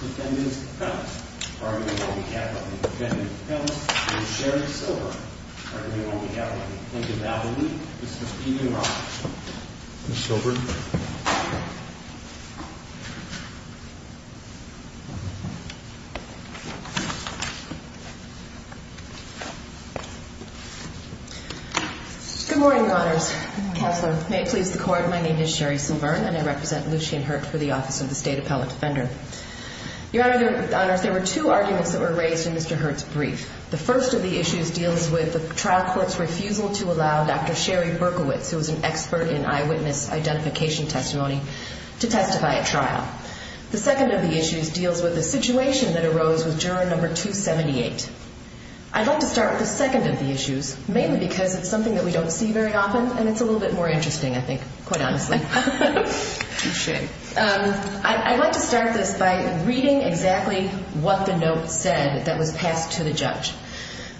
defendants of the premise, pardon me while we have them, defendant of the premise, Mr. Sherry Silver, pardon me while we have them, plaintiff albany, Mr. Steven Ross. Good morning, your honors. May it please the court, my name is Sherry Silver and I represent Lucien Hurt for the office of the state appellate defender. Your honor, there were two arguments that were raised in Mr. Hurt's brief. The first of the issues deals with the trial court's refusal to allow Dr. Sherry Berkowitz, who was an expert in eyewitness identification testimony, to testify at trial. The second of the issues deals with the situation that arose with juror number 278. I'd like to start with the second of the issues, mainly because it's something that we don't see very often and it's a little bit more interesting, I think, quite honestly. I'd like to start this by reading exactly what the note said that was passed to the judge.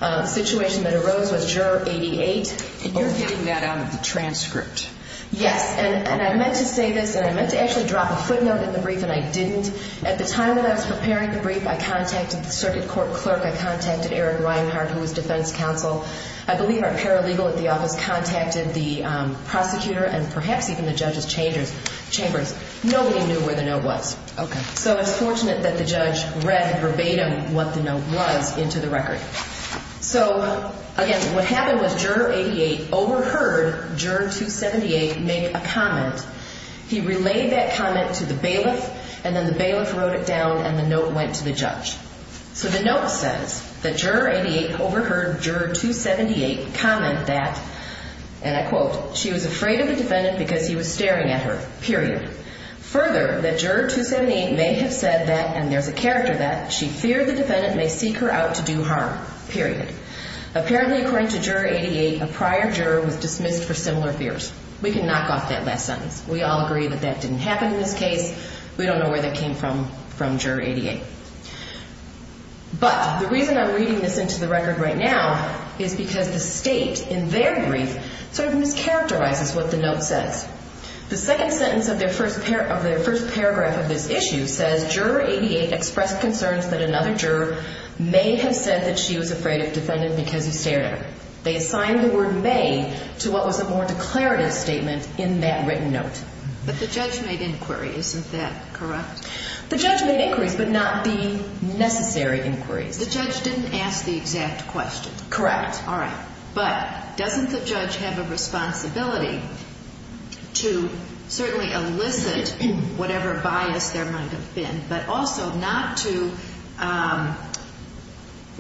The situation that arose with juror 88. You're getting that out of the transcript. Yes, and I meant to say this and I meant to actually drop a footnote in the brief and I didn't. At the time that I was preparing the brief, I contacted the circuit court clerk, I contacted Eric Reinhart, who was defense counsel. I believe our paralegal at the office contacted the prosecutor and perhaps even the judge's chambers. Nobody knew where the note was. So it's fortunate that the judge read verbatim what the note was into the record. So again, what happened was juror 88 overheard juror 278 make a comment. He relayed that comment to the bailiff and then the bailiff wrote it down and the note went to the judge. So the note says that juror 88 overheard juror 278 comment that, and I quote, she was afraid of the defendant because he was staring at her, period. Further, that juror 278 may have said that, and there's a character that, she feared the defendant may seek her out to do harm, period. Apparently, according to juror 88, a prior juror was dismissed for similar fears. We can knock off that last sentence. We all agree that that didn't happen in this case. We don't know where that came from from juror 88. But the reason I'm reading this into the record right now is because the state in their brief sort of mischaracterizes what the note says. The second sentence of their first paragraph of this issue says juror 88 expressed concerns that another juror may have said that she was afraid of the defendant because he stared at her. They assigned the word may to what was a more declarative statement in that written note. But the judge made inquiries, isn't that correct? The judge made inquiries, but not the necessary inquiries. The judge didn't ask the exact question. Correct. But doesn't the judge have a responsibility to certainly elicit whatever bias there might have been, but also not to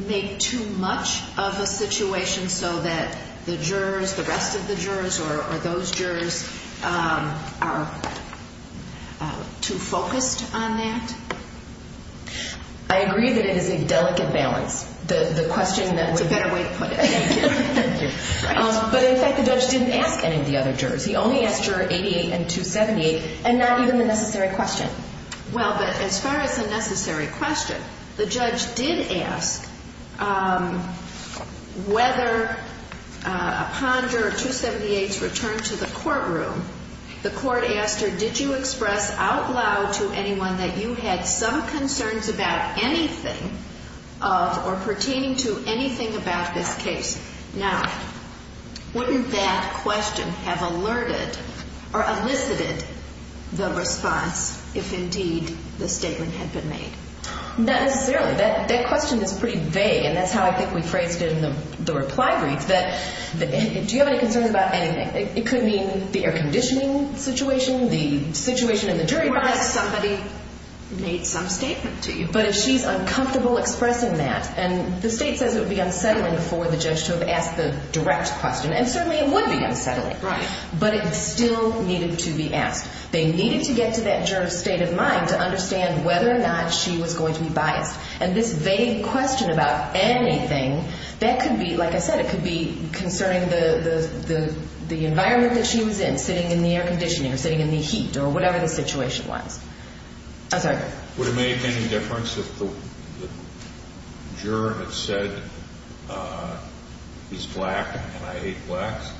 make too much of a situation so that the jurors, the rest of the jurors, or those jurors are too focused on that? I agree that it is a delicate balance. The question that would... It's a better way to put it. But in fact, the judge didn't ask any of the other jurors. He only asked juror 88 and 278 and not even the necessary question. Well, but as far as the necessary question, the judge did ask whether upon juror 278's return to the courtroom, the court asked her, did you express out loud to anyone that you had some concerns about anything of or pertaining to anything about this case? Now, wouldn't that question have alerted or elicited the response if indeed the statement had been made? Not necessarily. That question is pretty vague, and that's how I think we phrased it in the reply brief, that do you have any concerns about anything? It could mean the air conditioning situation, the situation in the jury box. What if somebody made some statement to you? But if she's uncomfortable expressing that, and the state says it would be unsettling for the judge to have asked the direct question, and certainly it would be unsettling, but it still needed to be asked. They needed to get to that juror's state of mind to understand whether or not she was going to be biased. And this vague question about anything, that could be, like I said, it could be concerning the environment that she was in, sitting in the air conditioning or sitting in the heat or whatever the situation was. Would it make any difference if the juror had said he's black and I hate blacks?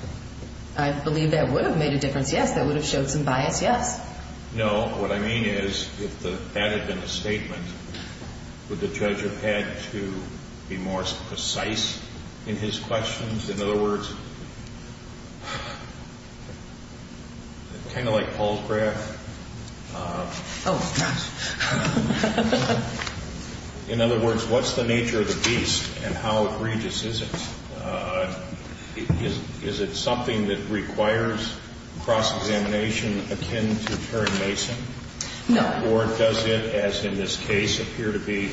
I believe that would have made a difference, yes. That would have showed some bias, yes. No, what I mean is if that had been a statement, would the judge have had to be more precise in his questions? In other words, kind of like Paul's graph, in other words, what's the nature of the beast and how egregious is it? Is it something that requires cross-examination akin to Terry Mason? No. Or does it, as in this case, appear to be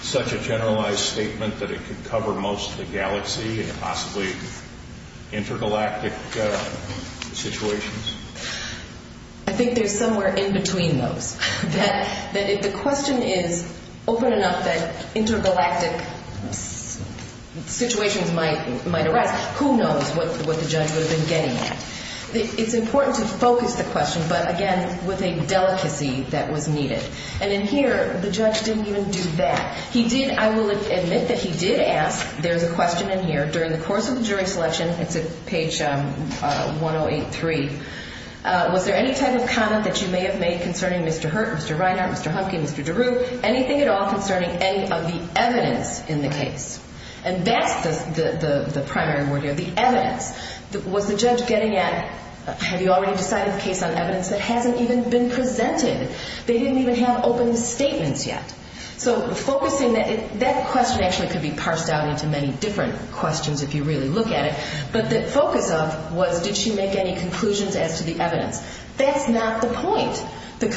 such a generalized statement that it could cover most of the galaxy and possibly intergalactic situations? I think there's somewhere in between those. That if the question is open enough that intergalactic situations might arise, who knows what the judge would have been getting at? It's important to focus the question, but again, with a delicacy that was needed. And in here, the judge didn't even do that. He did, I will admit that he did ask, there's a question in here, during the course of the jury selection, it's at page 1083, was there any type of comment that you may have made concerning Mr. Hurt, Mr. Reinhart, Mr. Humke, Mr. DeRue, anything at all concerning any of the evidence in the case? And that's the primary word here, the evidence. Was the judge getting at, have you already decided the case on evidence that hasn't even been presented? They didn't even have open statements yet. So focusing that, that question actually could be parsed out into many different questions if you really look at it. But the focus of was, did she make any conclusions as to the evidence? That's not the point. The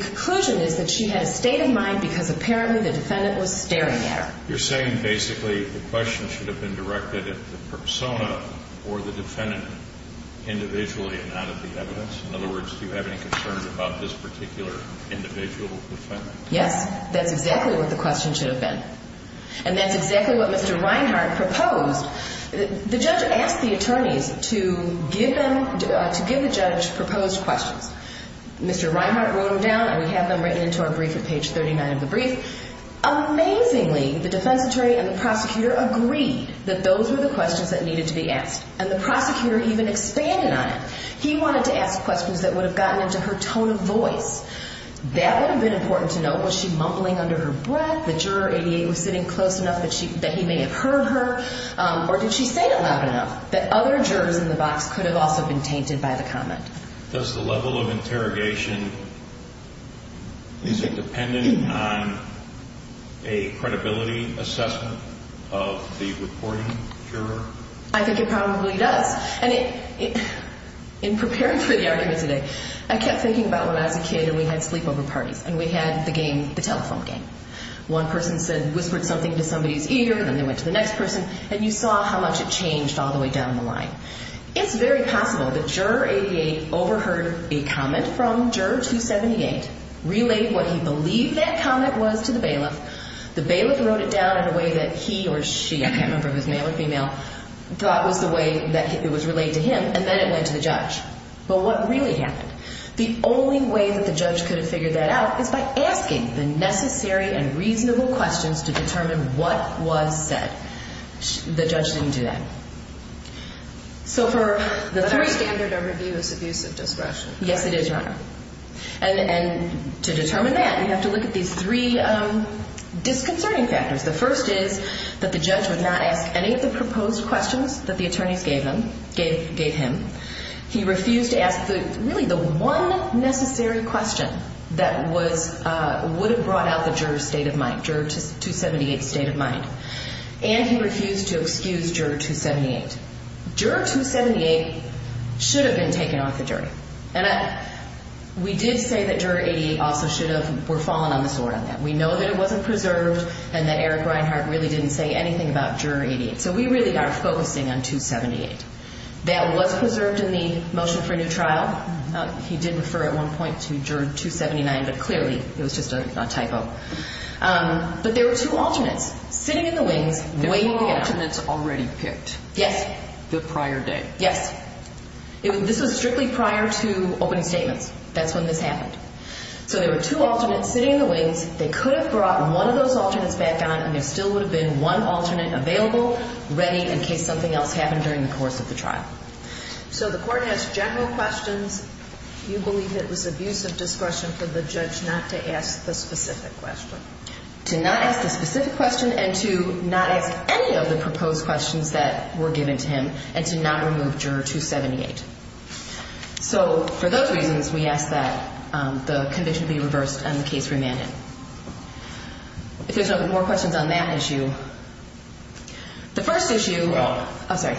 conclusion is that she had a state of mind because apparently the defendant was staring at her. You're saying basically the question should have been directed at the persona or the defendant individually and not at the evidence? In other words, do you have any concerns about this particular individual defendant? Yes, that's exactly what the question should have been. And that's exactly what Mr. Reinhart proposed. The judge asked the attorneys to give them, to give the judge proposed questions. Mr. Reinhart wrote them down and we have them written into our brief at page 39 of the brief. Amazingly, the defense attorney and the prosecutor agreed that those were the questions that needed to be asked. And the prosecutor even expanded on it. He wanted to ask questions that would have gotten into her tone of voice. That would have been important to know. Was she mumbling under her breath? The juror 88 was sitting close enough that he may have heard her. Or did she say it loud enough that other jurors in the box could have also been tainted by the comment? Does the level of interrogation, is it dependent on a credibility assessment of the reporting juror? I think it probably does. And in preparing for the argument today, I kept thinking about when I was a kid and we had sleepover parties. And we had the game, the telephone game. One person said, whispered something to somebody's ear and then they went to the next person. And you saw how much it changed all the way down the line. It's very possible the juror 88 overheard a comment from juror 278, relayed what he believed that comment was to the bailiff. The bailiff wrote it down in a way that he or she, I can't remember if it was male or female, thought was the way that it was relayed to him and then it went to the judge. But what really happened? The only way that the judge could have figured that out is by asking the necessary and reasonable questions to determine what was said. The judge didn't do that. But our standard of review is abusive discretion. Yes, it is, Your Honor. And to determine that, you have to look at these three disconcerting factors. The first is that the judge would not ask any of the proposed questions that the attorneys gave him. He refused to ask really the one necessary question that would have brought out the juror's state of mind, juror 278's state of mind. And he refused to excuse juror 278. Juror 278 should have been taken off the jury. And we did say that juror 88 also should have fallen on the sword on that. We know that it wasn't preserved and that Eric Reinhart really didn't say anything about juror 88. So we really are focusing on 278. That was preserved in the motion for a new trial. He did refer at one point to juror 279, but clearly it was just a typo. But there were two alternates sitting in the wings waiting to get on. There were alternates already picked. Yes. The prior day. Yes. This was strictly prior to opening statements. That's when this happened. So there were two alternates sitting in the wings. They could have brought one of those alternates back on, and there still would have been one alternate available, ready in case something else happened during the course of the trial. So the court has general questions. You believe it was abuse of discretion for the judge not to ask the specific question. To not ask the specific question and to not ask any of the proposed questions that were given to him and to not remove juror 278. So for those reasons, we ask that the conviction be reversed and the case remanded. If there's no more questions on that issue. The first issue. Oh, sorry.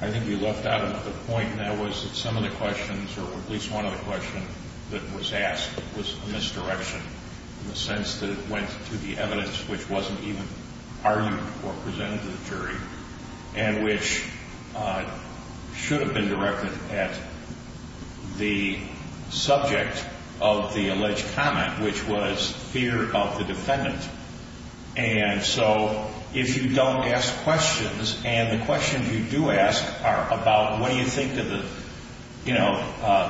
I think you left out a point, and that was that some of the questions, or at least one of the questions that was asked was a misdirection in the sense that it went to the evidence which wasn't even argued or presented to the jury and which should have been directed at the subject of the alleged comment, which was fear of the defendant. And so if you don't ask questions, and the questions you do ask are about, what do you think of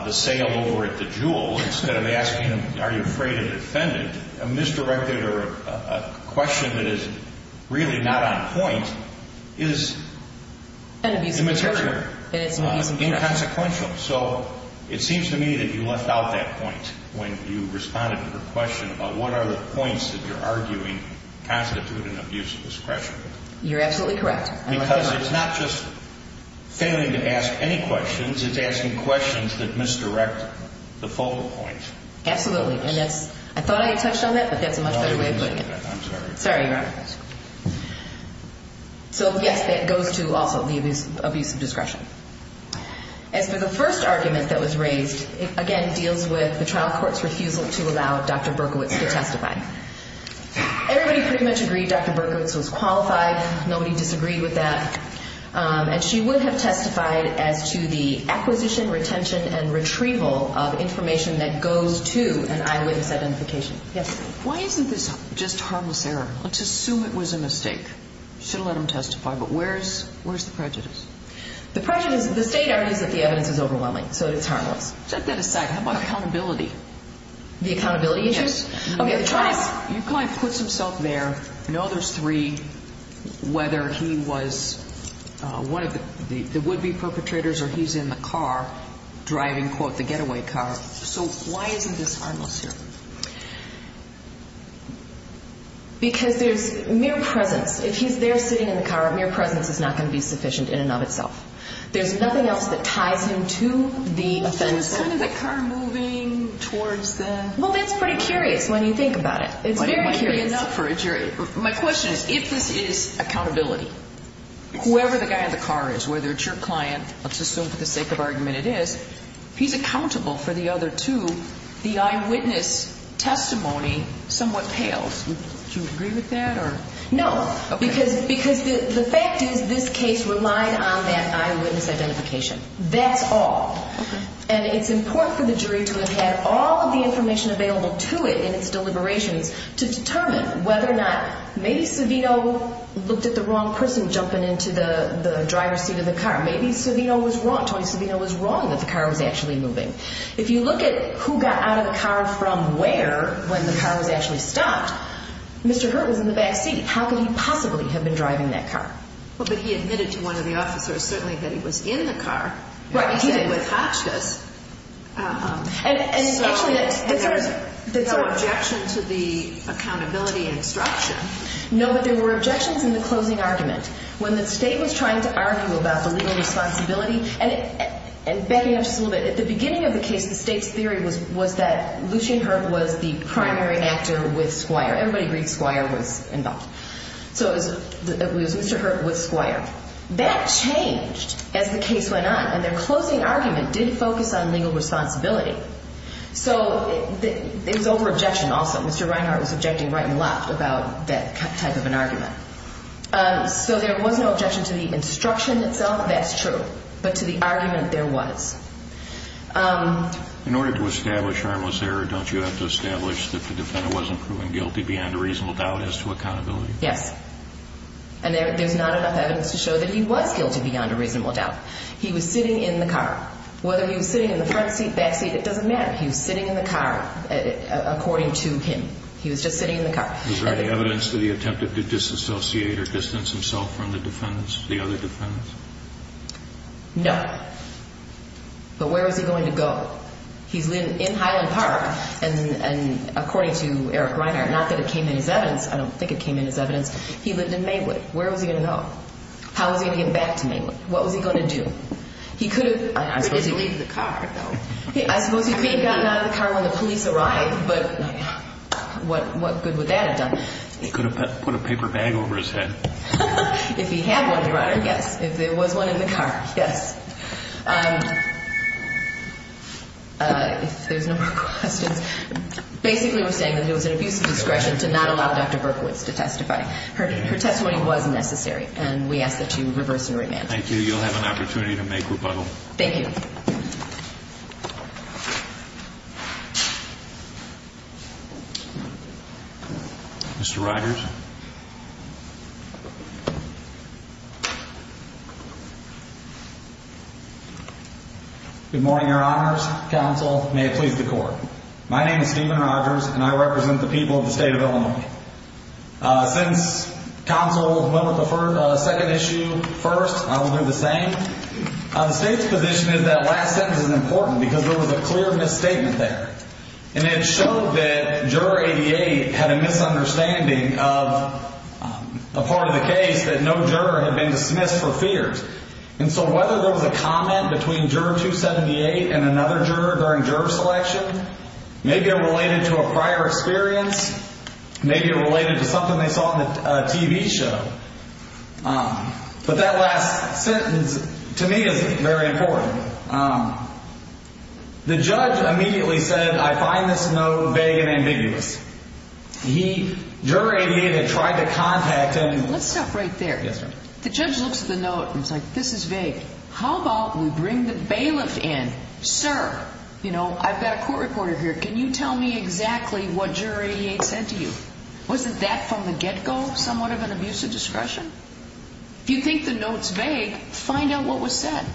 the sale over at the Jewel? Instead of asking, are you afraid of the defendant? A misdirection or a question that is really not on point is. An abuse of juror. Inconsequential. So it seems to me that you left out that point when you responded to the question about what are the points that you're arguing constitute an abuse of discretion. You're absolutely correct. Because it's not just failing to ask any questions, it's asking questions that misdirect the focal point. Absolutely. And that's, I thought I had touched on that, but that's a much better way of putting it. I'm sorry. Sorry, Your Honor. So, yes, that goes to also the abuse of discretion. As for the first argument that was raised, it again deals with the trial court's refusal to allow Dr. Berkowitz to testify. Everybody pretty much agreed Dr. Berkowitz was qualified. Nobody disagreed with that. And she would have testified as to the acquisition, retention, and retrieval of information that goes to an eyewitness identification. Yes? Why isn't this just harmless error? Let's assume it was a mistake. Should have let him testify, but where's the prejudice? The state argues that the evidence is overwhelming, so it's harmless. Set that aside. How about accountability? The accountability issue? Yes. Okay, the trial court puts himself there, know there's three, whether he was one of the would-be perpetrators or he's in the car driving, quote, the getaway car. So why isn't this harmless here? Because there's mere presence. If he's there sitting in the car, mere presence is not going to be sufficient in and of itself. There's nothing else that ties him to the offender. Isn't the car moving towards the? Well, that's pretty curious when you think about it. It's very curious. My question is, if this is accountability, whoever the guy in the car is, whether it's your client, let's assume for the sake of argument it is, he's accountable for the other two, the eyewitness testimony somewhat pales. Do you agree with that? No. Because the fact is this case relied on that eyewitness identification. That's all. And it's important for the jury to have had all of the information available to it in its deliberations to determine whether or not maybe Savino looked at the wrong person jumping into the driver's seat of the car. Maybe Savino was wrong. Tony Savino was wrong that the car was actually moving. If you look at who got out of the car from where when the car was actually stopped, Mr. Hurt was in the back seat. How could he possibly have been driving that car? Well, but he admitted to one of the officers, certainly, that he was in the car. Right. He said it was Hotchkiss. And there's no objection to the accountability and obstruction. No, but there were objections in the closing argument. When the State was trying to argue about the legal responsibility, and backing up just a little bit, at the beginning of the case, the State's theory was that Lucian Hurt was the primary actor with Squire. Everybody agreed Squire was involved. So it was Mr. Hurt with Squire. That changed as the case went on, and their closing argument did focus on legal responsibility. So it was over-objection also. Mr. Reinhart was objecting right and left about that type of an argument. So there was no objection to the instruction itself. Well, that's true. But to the argument there was. In order to establish harmless error, don't you have to establish that the defendant wasn't proven guilty beyond a reasonable doubt as to accountability? Yes. And there's not enough evidence to show that he was guilty beyond a reasonable doubt. He was sitting in the car. Whether he was sitting in the front seat, back seat, it doesn't matter. He was sitting in the car, according to him. He was just sitting in the car. Was there any evidence that he attempted to disassociate or distance himself from the defendants, the other defendants? No. But where was he going to go? He's living in Highland Park, and according to Eric Reinhart, not that it came in his evidence. I don't think it came in his evidence. He lived in Mainwood. Where was he going to go? How was he going to get back to Mainwood? What was he going to do? He could have. He didn't leave the car, though. I suppose he could have gotten out of the car when the police arrived, but what good would that have done? He could have put a paper bag over his head. If he had one, Your Honor, yes. If there was one in the car, yes. If there's no more questions. Basically we're saying that it was an abuse of discretion to not allow Dr. Berkowitz to testify. Her testimony was necessary, and we ask that you reverse and remand. Thank you. You'll have an opportunity to make rebuttal. Thank you. Mr. Rogers. Good morning, Your Honors. Counsel, may it please the Court. My name is Stephen Rogers, and I represent the people of the state of Illinois. Since counsel went with the second issue first, I will do the same. The state's position is that last sentence is important because there was a clear misstatement there, and it showed that Juror 88 had a misunderstanding of a part of the case that no juror had been dismissed for fears. And so whether there was a comment between Juror 278 and another juror during juror selection, maybe it related to a prior experience, maybe it related to something they saw on the TV show. But that last sentence, to me, is very important. The judge immediately said, I find this note vague and ambiguous. Juror 88 had tried to contact him. Let's stop right there. Yes, ma'am. The judge looks at the note and is like, this is vague. How about we bring the bailiff in? Sir, you know, I've got a court reporter here. Can you tell me exactly what Juror 88 said to you? Wasn't that from the get-go somewhat of an abuse of discretion? If you think the note's vague, find out what was said.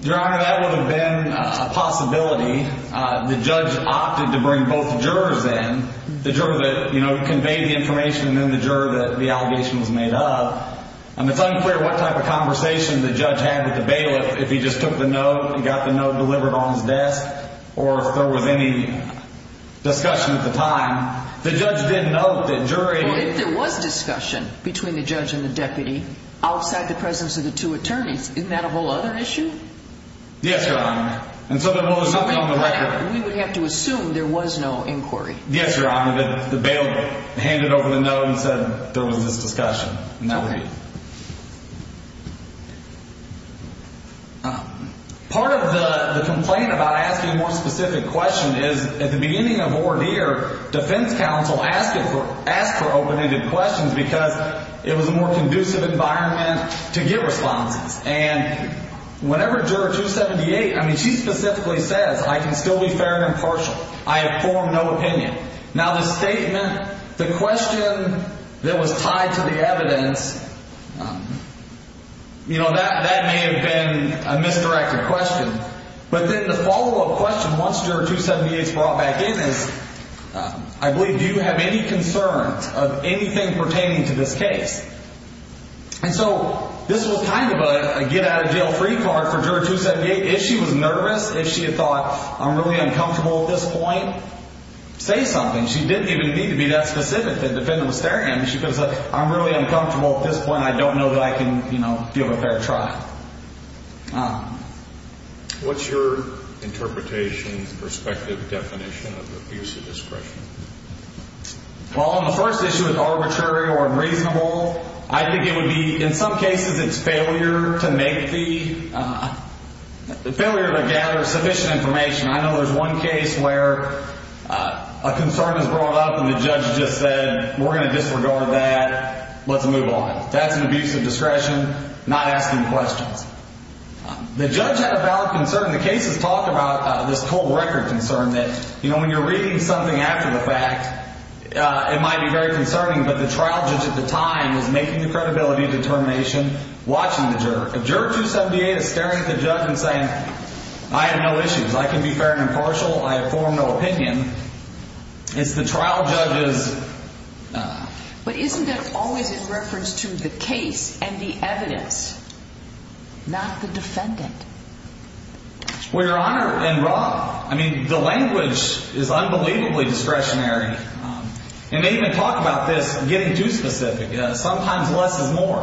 Your Honor, that would have been a possibility. The judge opted to bring both jurors in, the juror that conveyed the information and then the juror that the allegation was made of. And it's unclear what type of conversation the judge had with the bailiff, if he just took the note and got the note delivered on his desk or if there was any discussion at the time. The judge did note that jury— outside the presence of the two attorneys. Isn't that a whole other issue? Yes, Your Honor. And so there was nothing on the record. We would have to assume there was no inquiry. Yes, Your Honor. The bailiff handed over the note and said there was this discussion. Okay. Part of the complaint about asking a more specific question is at the beginning of ordeer, defense counsel asked for open-ended questions because it was a more conducive environment to get responses. And whenever juror 278—I mean, she specifically says, I can still be fair and impartial. I have formed no opinion. Now, the statement—the question that was tied to the evidence, you know, that may have been a misdirected question. But then the follow-up question once juror 278 is brought back in is, I believe, do you have any concerns of anything pertaining to this case? And so this was kind of a get-out-of-jail-free card for juror 278. If she was nervous, if she had thought, I'm really uncomfortable at this point, say something. She didn't even need to be that specific to defend the mysterium. She could have said, I'm really uncomfortable at this point. I don't know that I can, you know, give a fair trial. What's your interpretation, perspective, definition of abusive discretion? Well, on the first issue, it's arbitrary or unreasonable. I think it would be—in some cases, it's failure to make the—failure to gather sufficient information. I know there's one case where a concern is brought up and the judge just said, we're going to disregard that. Let's move on. That's an abusive discretion, not asking questions. The judge had a valid concern. The case has talked about this cold-record concern that, you know, when you're reading something after the fact, it might be very concerning, but the trial judge at the time was making the credibility determination, watching the juror. If juror 278 is staring at the judge and saying, I have no issues. I can be fair and impartial. I have formed no opinion, it's the trial judge's— But isn't that always in reference to the case and the evidence, not the defendant? Well, Your Honor, and Rob, I mean, the language is unbelievably discretionary. And they even talk about this getting too specific. Sometimes less is more.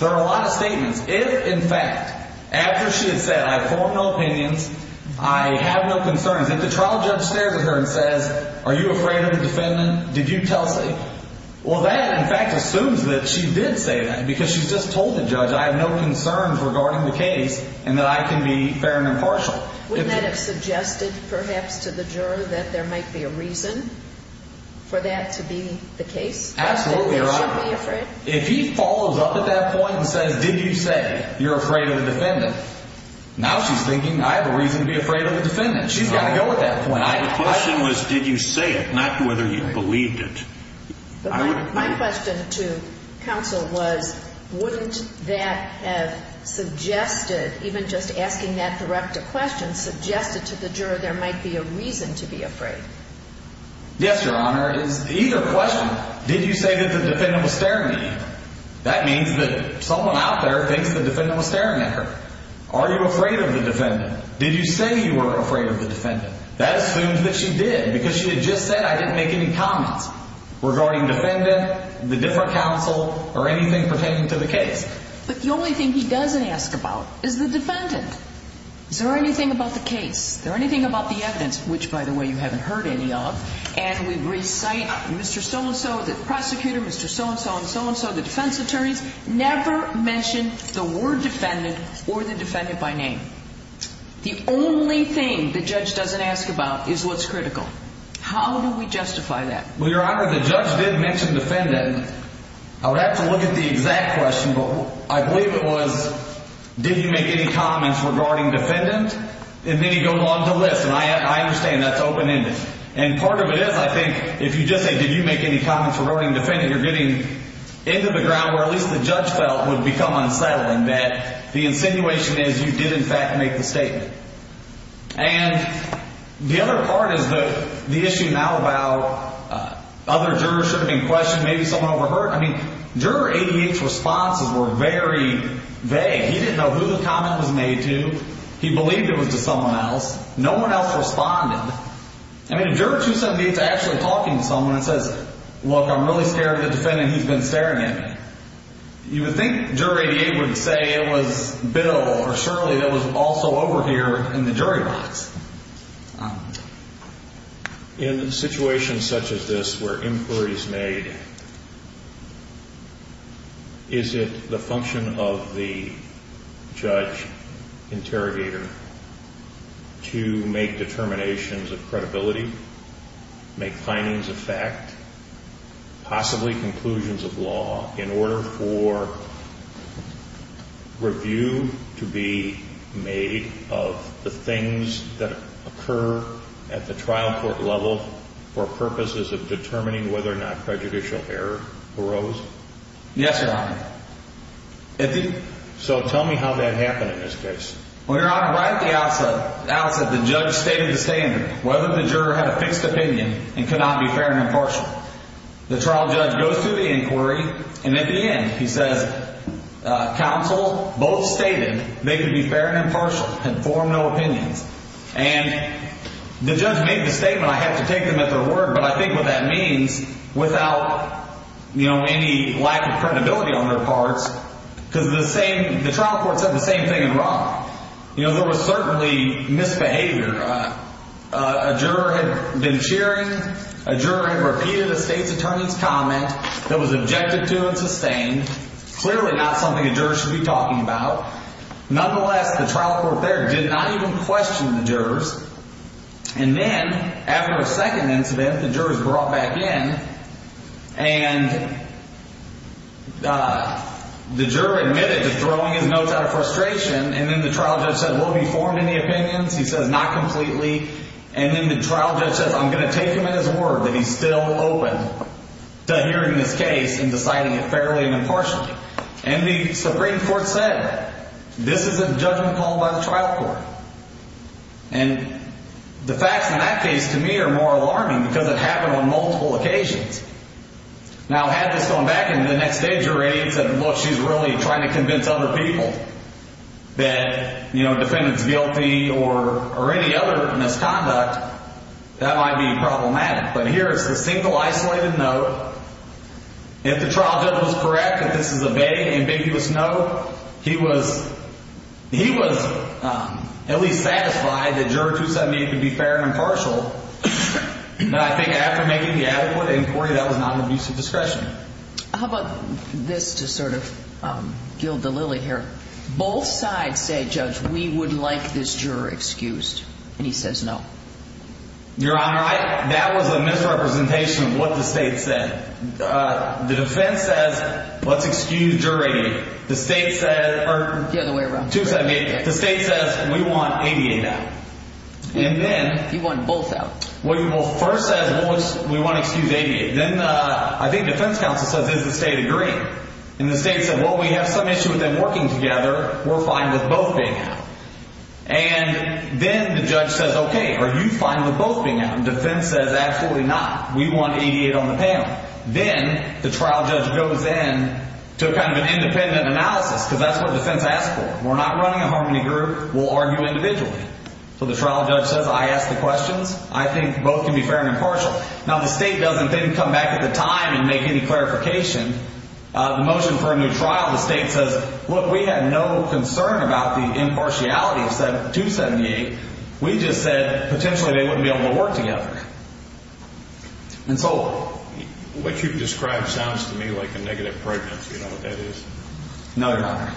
There are a lot of statements. If, in fact, after she had said, I have formed no opinions, I have no concerns, if the trial judge stares at her and says, are you afraid of the defendant? Well, that, in fact, assumes that she did say that because she's just told the judge, I have no concerns regarding the case and that I can be fair and impartial. Wouldn't that have suggested, perhaps, to the juror that there might be a reason for that to be the case? Absolutely, Your Honor. If he follows up at that point and says, did you say you're afraid of the defendant? Now she's thinking, I have a reason to be afraid of the defendant. She's got to go at that point. My question was, did you say it, not whether you believed it. My question to counsel was, wouldn't that have suggested, even just asking that direct question, suggested to the juror there might be a reason to be afraid? Yes, Your Honor. It's either question, did you say that the defendant was staring at you? That means that someone out there thinks the defendant was staring at her. Are you afraid of the defendant? Did you say you were afraid of the defendant? That assumes that she did because she had just said I didn't make any comments regarding defendant, the different counsel, or anything pertaining to the case. But the only thing he doesn't ask about is the defendant. Is there anything about the case? Is there anything about the evidence, which, by the way, you haven't heard any of, and we recite Mr. So-and-so, the prosecutor, Mr. So-and-so, and so-and-so, the defense attorneys, never mention the word defendant or the defendant by name. The only thing the judge doesn't ask about is what's critical. How do we justify that? Well, Your Honor, the judge did mention defendant. I would have to look at the exact question, but I believe it was did you make any comments regarding defendant, and then he goes on to list, and I understand that's open-ended. And part of it is, I think, if you just say did you make any comments regarding defendant, you're getting into the ground where at least the judge felt would become unsettling, that the insinuation is you did, in fact, make the statement. And the other part is the issue now about other jurors should have been questioned, maybe someone overheard. I mean, Juror 88's responses were very vague. He didn't know who the comment was made to. He believed it was to someone else. No one else responded. I mean, if Juror 278's actually talking to someone and says, look, I'm really scared of the defendant he's been staring at me, you would think Juror 88 would say it was Bill or Shirley that was also over here in the jury box. In situations such as this where inquiry is made, is it the function of the judge interrogator to make determinations of credibility, make findings of fact, possibly conclusions of law in order for review to be made of the things that occur at the trial court level for purposes of determining whether or not prejudicial error arose? Yes, Your Honor. So tell me how that happened in this case. Well, Your Honor, right at the outset, the judge stated the standard, whether the juror had a fixed opinion and could not be fair and impartial. The trial judge goes through the inquiry, and at the end he says, counsel both stated they could be fair and impartial and form no opinions. And the judge made the statement. I had to take them at their word, but I think what that means, without any lack of credibility on their parts, because the trial court said the same thing in Ron. There was certainly misbehavior. A juror had been cheering. A juror had repeated a state's attorney's comment that was objective to and sustained. Clearly not something a juror should be talking about. Nonetheless, the trial court there did not even question the jurors. And then after a second incident, the jurors brought back in, and the juror admitted to throwing his notes out of frustration, and then the trial judge said, well, have you formed any opinions? He says, not completely. And then the trial judge says, I'm going to take him at his word that he's still open to hearing this case and deciding it fairly and impartially. And the Supreme Court said, this is a judgment called by the trial court. And the facts in that case, to me, are more alarming, because it happened on multiple occasions. Now, had this gone back and the next day a jury said, look, she's really trying to convince other people that a defendant's guilty or any other misconduct, that might be problematic. But here is the single isolated note. If the trial judge was correct that this is a vague, ambiguous note, he was at least satisfied that Juror 278 could be fair and impartial. But I think after making the adequate inquiry, that was not an abusive discretion. How about this to sort of gild the lily here. Both sides say, Judge, we would like this juror excused. And he says no. Your Honor, that was a misrepresentation of what the state said. The defense says, let's excuse jury. The state said, or 278, the state says, we want 88 out. And then. You want both out. Well, first says, we want to excuse 88. Then I think defense counsel says, does the state agree? And the state said, well, we have some issue with them working together. We're fine with both being out. And then the judge says, okay, are you fine with both being out? And defense says, absolutely not. We want 88 on the panel. Then the trial judge goes in to kind of an independent analysis, because that's what defense asked for. We're not running a harmony group. We'll argue individually. So the trial judge says, I asked the questions. I think both can be fair and impartial. Now, the state doesn't then come back at the time and make any clarification. The motion for a new trial, the state says, look, we have no concern about the impartiality of 278. We just said potentially they wouldn't be able to work together. And so what you've described sounds to me like a negative pregnancy. You know what that is? No, Your Honor.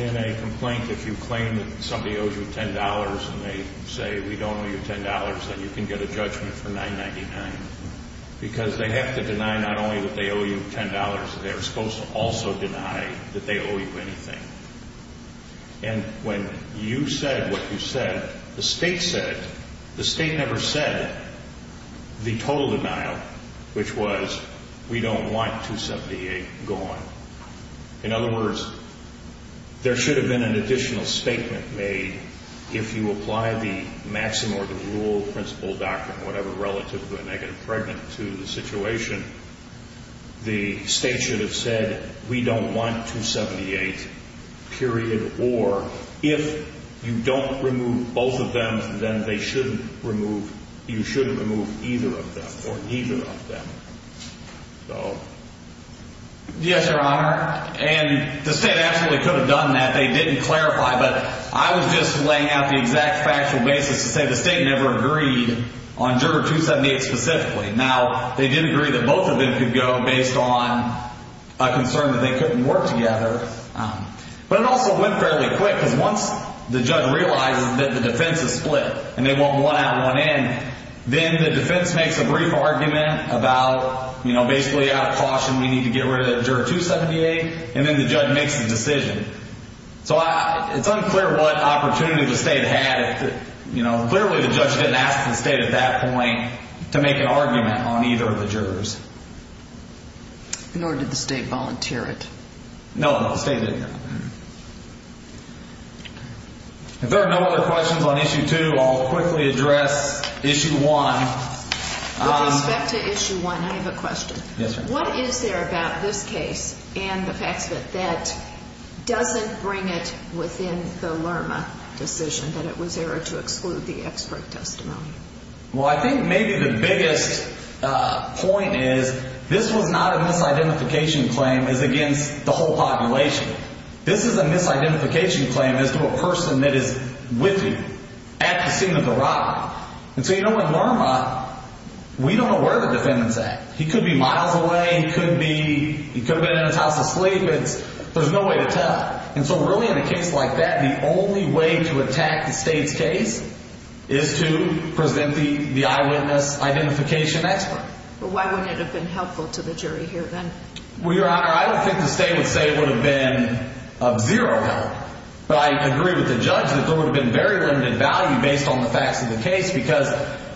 In a complaint, if you claim that somebody owes you $10 and they say, we don't owe you $10, then you can get a judgment for $999, because they have to deny not only that they owe you $10, they're supposed to also deny that they owe you anything. And when you said what you said, the state said it. The state never said the total denial, which was, we don't want 278 gone. In other words, there should have been an additional statement made if you apply the maxim or the rule, principle, doctrine, whatever, relative to a negative pregnant to the situation. The state should have said, we don't want 278, period, or if you don't remove both of them, then they shouldn't remove, you shouldn't remove either of them or neither of them. Yes, Your Honor. And the state absolutely could have done that. They didn't clarify. But I was just laying out the exact factual basis to say the state never agreed on Juror 278 specifically. Now, they did agree that both of them could go based on a concern that they couldn't work together. But it also went fairly quick, because once the judge realizes that the defense is split and they want one out, one in, then the defense makes a brief argument about, basically out of caution, we need to get rid of Juror 278, and then the judge makes a decision. So it's unclear what opportunity the state had. Clearly the judge didn't ask the state at that point to make an argument on either of the jurors. Nor did the state volunteer it. No, the state didn't. If there are no other questions on Issue 2, I'll quickly address Issue 1. With respect to Issue 1, I have a question. Yes, Your Honor. What is there about this case and the facts of it that doesn't bring it within the Lerma decision that it was error to exclude the expert testimony? Well, I think maybe the biggest point is this was not a misidentification claim as against the whole population. This is a misidentification claim as to a person that is with you at the scene of the robbery. And so, you know, with Lerma, we don't know where the defendant's at. He could be miles away. He could have been in his house asleep. There's no way to tell. And so really in a case like that, the only way to attack the state's case is to present the eyewitness identification expert. But why wouldn't it have been helpful to the jury here then? Well, Your Honor, I don't think the state would say it would have been of zero help. But I agree with the judge that there would have been very limited value based on the facts of the case because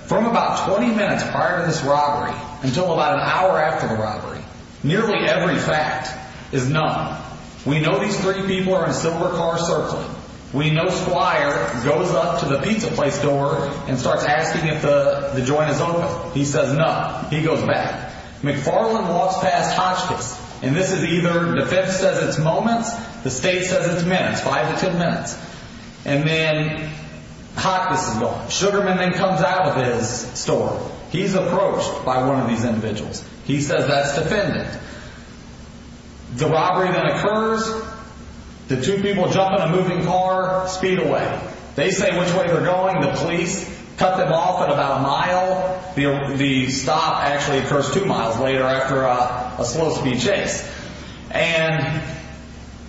from about 20 minutes prior to this robbery until about an hour after the robbery, nearly every fact is none. We know these three people are in silver cars circling. We know Squire goes up to the pizza place door and starts asking if the joint is open. He says none. He goes back. McFarland walks past Hotchkiss. And this is either the defense says it's moments, the state says it's minutes, five to ten minutes. And then Hotchkiss is gone. Sugarman then comes out of his store. He's approached by one of these individuals. He says that's defendant. The robbery then occurs. The two people jump in a moving car, speed away. They say which way they're going. The police cut them off at about a mile. The stop actually occurs two miles later after a slow speed chase. And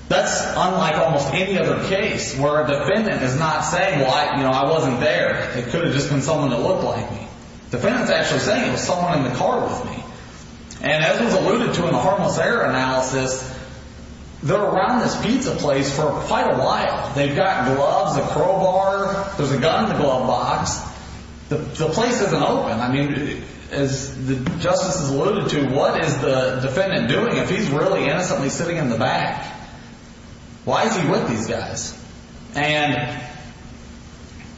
that's unlike almost any other case where a defendant is not saying, well, I wasn't there. It could have just been someone that looked like me. The defendant is actually saying it was someone in the car with me. And as was alluded to in the harmless error analysis, they're around this pizza place for quite a while. They've got gloves, a crowbar. There's a gun in the glove box. The place isn't open. I mean, as the justices alluded to, what is the defendant doing if he's really innocently sitting in the back? Why is he with these guys? And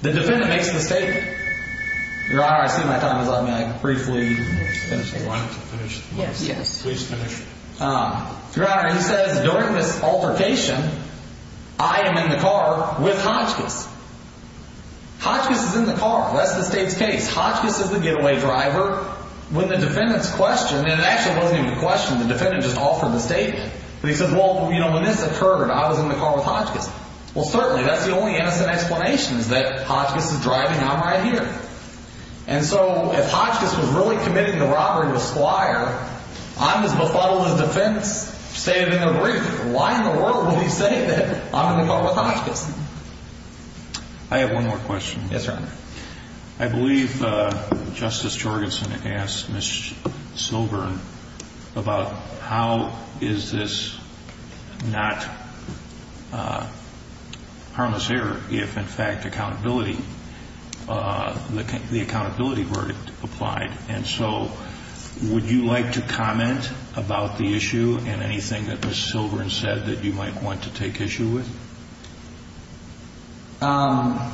the defendant makes a mistake. Your Honor, I see my time is up. May I briefly finish? Yes. Please finish. Your Honor, he says during this altercation, I am in the car with Hotchkiss. Hotchkiss is in the car. That's the state's case. Hotchkiss is the getaway driver. When the defendant's questioned, and it actually wasn't even a question. The defendant just offered the statement. He says, well, when this occurred, I was in the car with Hotchkiss. Well, certainly, that's the only innocent explanation is that Hotchkiss is driving. I'm right here. And so if Hotchkiss was really committing the robbery with Squire, I'm as befuddled as defense stated in the brief. Why in the world would he say that I'm in the car with Hotchkiss? I have one more question. Yes, Your Honor. I believe Justice Jorgensen asked Ms. Silbern about how is this not harmless error if, in fact, accountability, the accountability verdict applied. And so would you like to comment about the issue and anything that Ms. Silbern said that you might want to take issue with? Not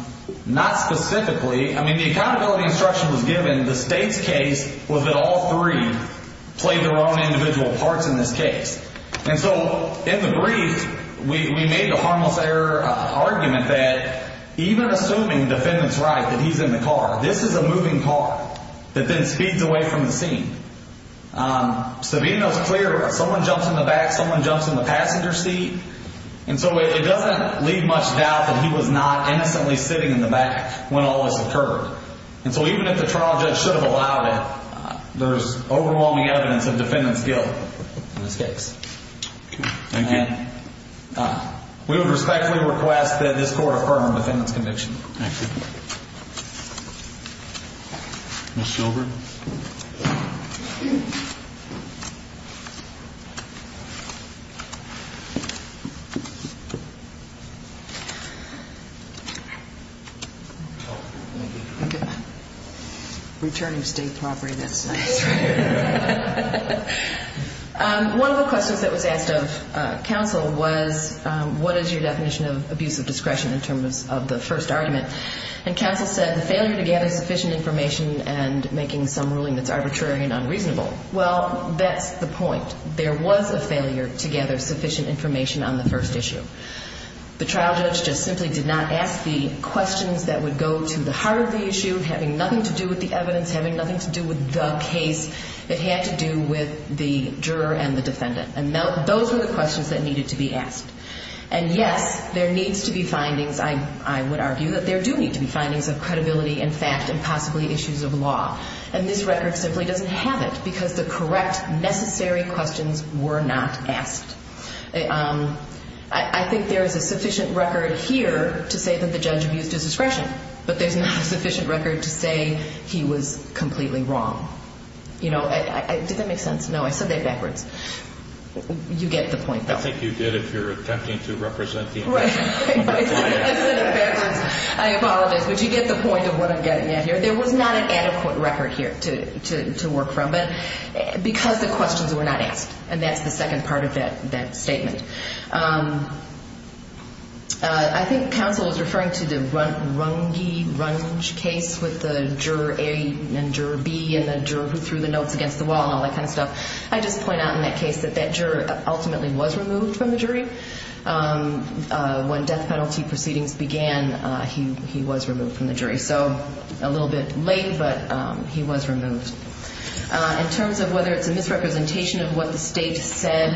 specifically. I mean, the accountability instruction was given. The state's case was that all three played their own individual parts in this case. And so in the brief, we made the harmless error argument that even assuming the defendant's right that he's in the car, this is a moving car that then speeds away from the scene. So being as clear, someone jumps in the back, someone jumps in the passenger seat. And so it doesn't leave much doubt that he was not innocently sitting in the back when all this occurred. And so even if the trial judge should have allowed it, there's overwhelming evidence of defendant's guilt in this case. Thank you. And we would respectfully request that this court affirm the defendant's conviction. Thank you. Ms. Silbern? Thank you. Returning to state property, that's nice, right? One of the questions that was asked of counsel was, what is your definition of abuse of discretion in terms of the first argument? And counsel said the failure to gather sufficient information and making some ruling that's arbitrary and unreasonable. Well, that's the point. There was a failure to gather sufficient information on the first issue. The trial judge just simply did not ask the questions that would go to the heart of the issue, having nothing to do with the evidence, having nothing to do with the case. It had to do with the juror and the defendant. And those were the questions that needed to be asked. And, yes, there needs to be findings. I would argue that there do need to be findings of credibility and fact and possibly issues of law. And this record simply doesn't have it because the correct, necessary questions were not asked. I think there is a sufficient record here to say that the judge abused his discretion, but there's not a sufficient record to say he was completely wrong. You know, did that make sense? No, I said that backwards. You get the point. I think you did if you're attempting to represent the information. I said it backwards. I apologize. But you get the point of what I'm getting at here. There was not an adequate record here to work from because the questions were not asked. And that's the second part of that statement. I think counsel was referring to the Runge case with the juror A and juror B and the juror who threw the notes against the wall and all that kind of stuff. I just point out in that case that that juror ultimately was removed from the jury. When death penalty proceedings began, he was removed from the jury. So a little bit late, but he was removed. In terms of whether it's a misrepresentation of what the State said,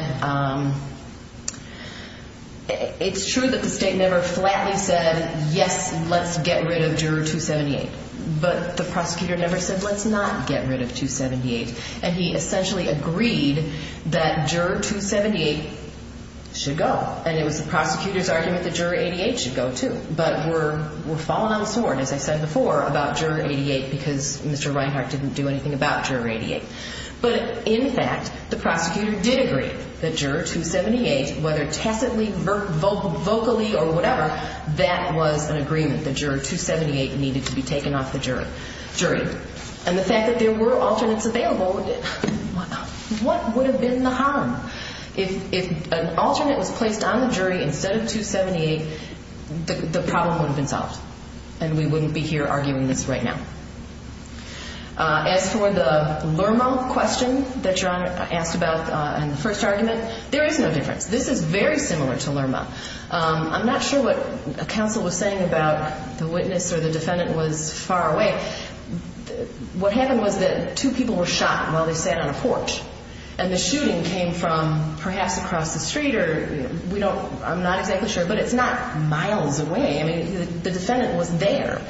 it's true that the State never flatly said, yes, let's get rid of juror 278. But the prosecutor never said, let's not get rid of 278. And he essentially agreed that juror 278 should go. And it was the prosecutor's argument that juror 88 should go, too. But we're falling on the sword, as I said before, about juror 88 because Mr. Reinhart didn't do anything about juror 88. But, in fact, the prosecutor did agree that juror 278, whether tacitly, vocally, or whatever, that was an agreement, that juror 278 needed to be taken off the jury. And the fact that there were alternates available, what would have been the harm? If an alternate was placed on the jury instead of 278, the problem would have been solved, and we wouldn't be here arguing this right now. As for the Lerma question that your Honor asked about in the first argument, there is no difference. This is very similar to Lerma. I'm not sure what counsel was saying about the witness or the defendant was far away. What happened was that two people were shot while they sat on a porch. And the shooting came from perhaps across the street or we don't – I'm not exactly sure, but it's not miles away. I mean, the defendant was there.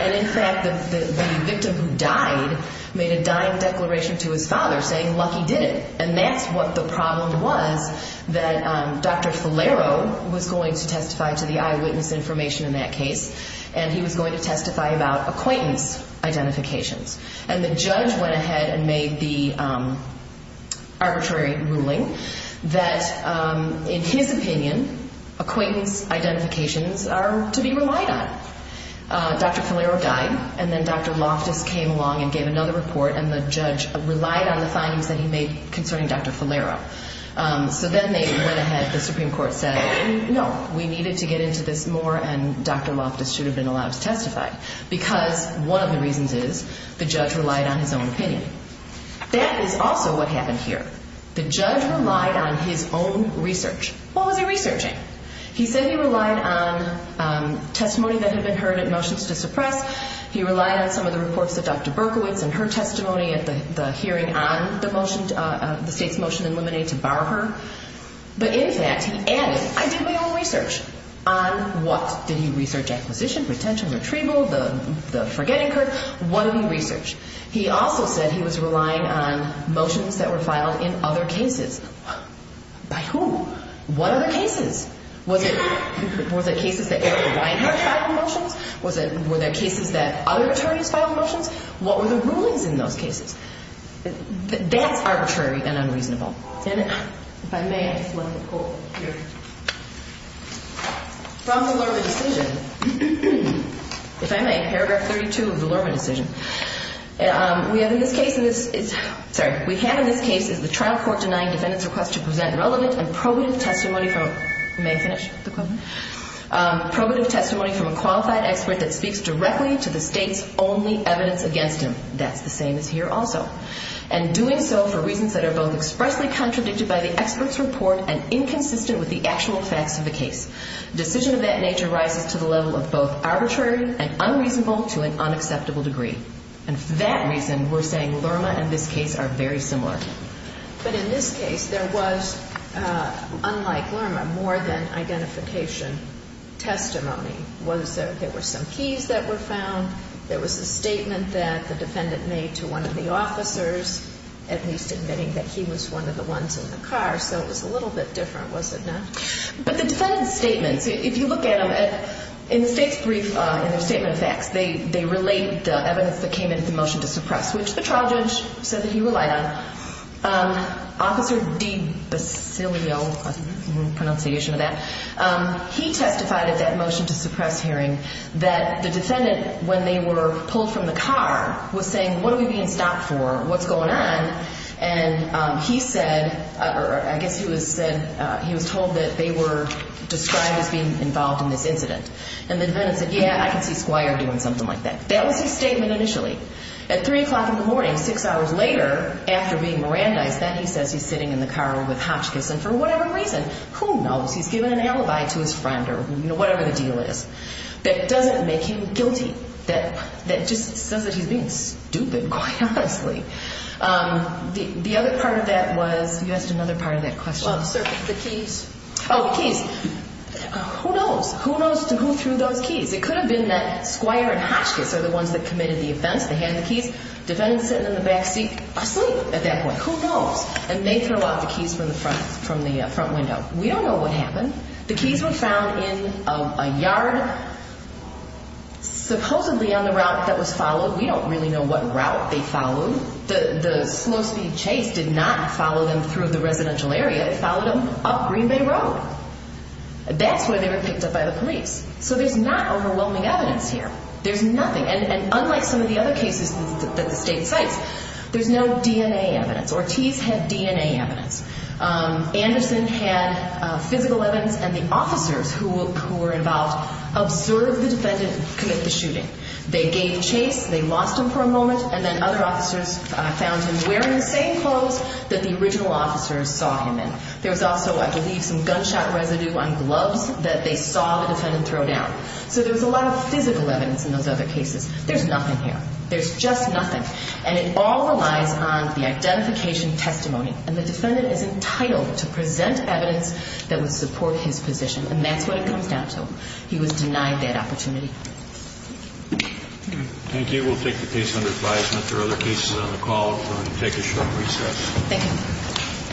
And, in fact, the victim who died made a dying declaration to his father saying, lucky did it. And that's what the problem was that Dr. Falero was going to testify to the eyewitness information in that case. And he was going to testify about acquaintance identifications. And the judge went ahead and made the arbitrary ruling that, in his opinion, acquaintance identifications are to be relied on. Dr. Falero died, and then Dr. Loftus came along and gave another report, and the judge relied on the findings that he made concerning Dr. Falero. So then they went ahead. The Supreme Court said, no, we needed to get into this more and Dr. Loftus should have been allowed to testify because one of the reasons is the judge relied on his own opinion. That is also what happened here. The judge relied on his own research. What was he researching? He said he relied on testimony that had been heard at motions to suppress. He relied on some of the reports of Dr. Berkowitz and her testimony at the hearing on the motion, the state's motion in limine to bar her. But in fact, he added, I did my own research. On what? Did he research acquisition, retention, retrieval, the forgetting curve? What did he research? He also said he was relying on motions that were filed in other cases. By whom? What other cases? Was it cases that Eric Reinhart filed in motions? Were there cases that other attorneys filed in motions? What were the rulings in those cases? That's arbitrary and unreasonable. And if I may, I'd just like to quote here from the Lurva decision. If I may, paragraph 32 of the Lurva decision. We have in this case is the trial court denying defendants' request to present relevant and probative testimony from a qualified expert that speaks directly to the state's only evidence against him. That's the same as here also. And doing so for reasons that are both expressly contradicted by the expert's report and inconsistent with the actual facts of the case. Decision of that nature rises to the level of both arbitrary and unreasonable to an unacceptable degree. And for that reason, we're saying Lurva and this case are very similar. But in this case, there was, unlike Lurva, more than identification testimony. There were some keys that were found. There was a statement that the defendant made to one of the officers, at least admitting that he was one of the ones in the car. So it was a little bit different, was it not? But the defendant's statements, if you look at them, in the state's brief, in their statement of facts, they relate the evidence that came in at the motion to suppress, which the trial judge said that he relied on. Officer D. Basilio, pronunciation of that, he testified at that motion to suppress hearing that the defendant, when they were pulled from the car, was saying, what are we being stopped for? What's going on? And he said, or I guess he was told that they were described as being involved in this incident. And the defendant said, yeah, I can see Squire doing something like that. That was his statement initially. At 3 o'clock in the morning, six hours later, after being Mirandized, then he says he's sitting in the car with Hotchkiss. And for whatever reason, who knows, he's given an alibi to his friend or whatever the deal is, that doesn't make him guilty. The other part of that was, you asked another part of that question. Well, sir, the keys. Oh, the keys. Who knows? Who knows who threw those keys? It could have been that Squire and Hotchkiss are the ones that committed the offense. They had the keys. Defendant's sitting in the back seat asleep at that point. Who knows? And they throw out the keys from the front window. We don't know what happened. The keys were found in a yard, supposedly on the route that was followed. We don't really know what route they followed. The slow-speed chase did not follow them through the residential area. It followed them up Green Bay Road. That's where they were picked up by the police. So there's not overwhelming evidence here. There's nothing. And unlike some of the other cases that the state cites, there's no DNA evidence. Ortiz had DNA evidence. Anderson had physical evidence. And the officers who were involved observed the defendant commit the shooting. They gave chase. They lost him for a moment. And then other officers found him wearing the same clothes that the original officers saw him in. There was also, I believe, some gunshot residue on gloves that they saw the defendant throw down. So there was a lot of physical evidence in those other cases. There's nothing here. There's just nothing. And it all relies on the identification testimony. And the defendant is entitled to present evidence that would support his position. And that's what it comes down to. He was denied that opportunity. Thank you. We'll take the case under advisement. There are other cases on the call, so I'm going to take a short recess. Thank you.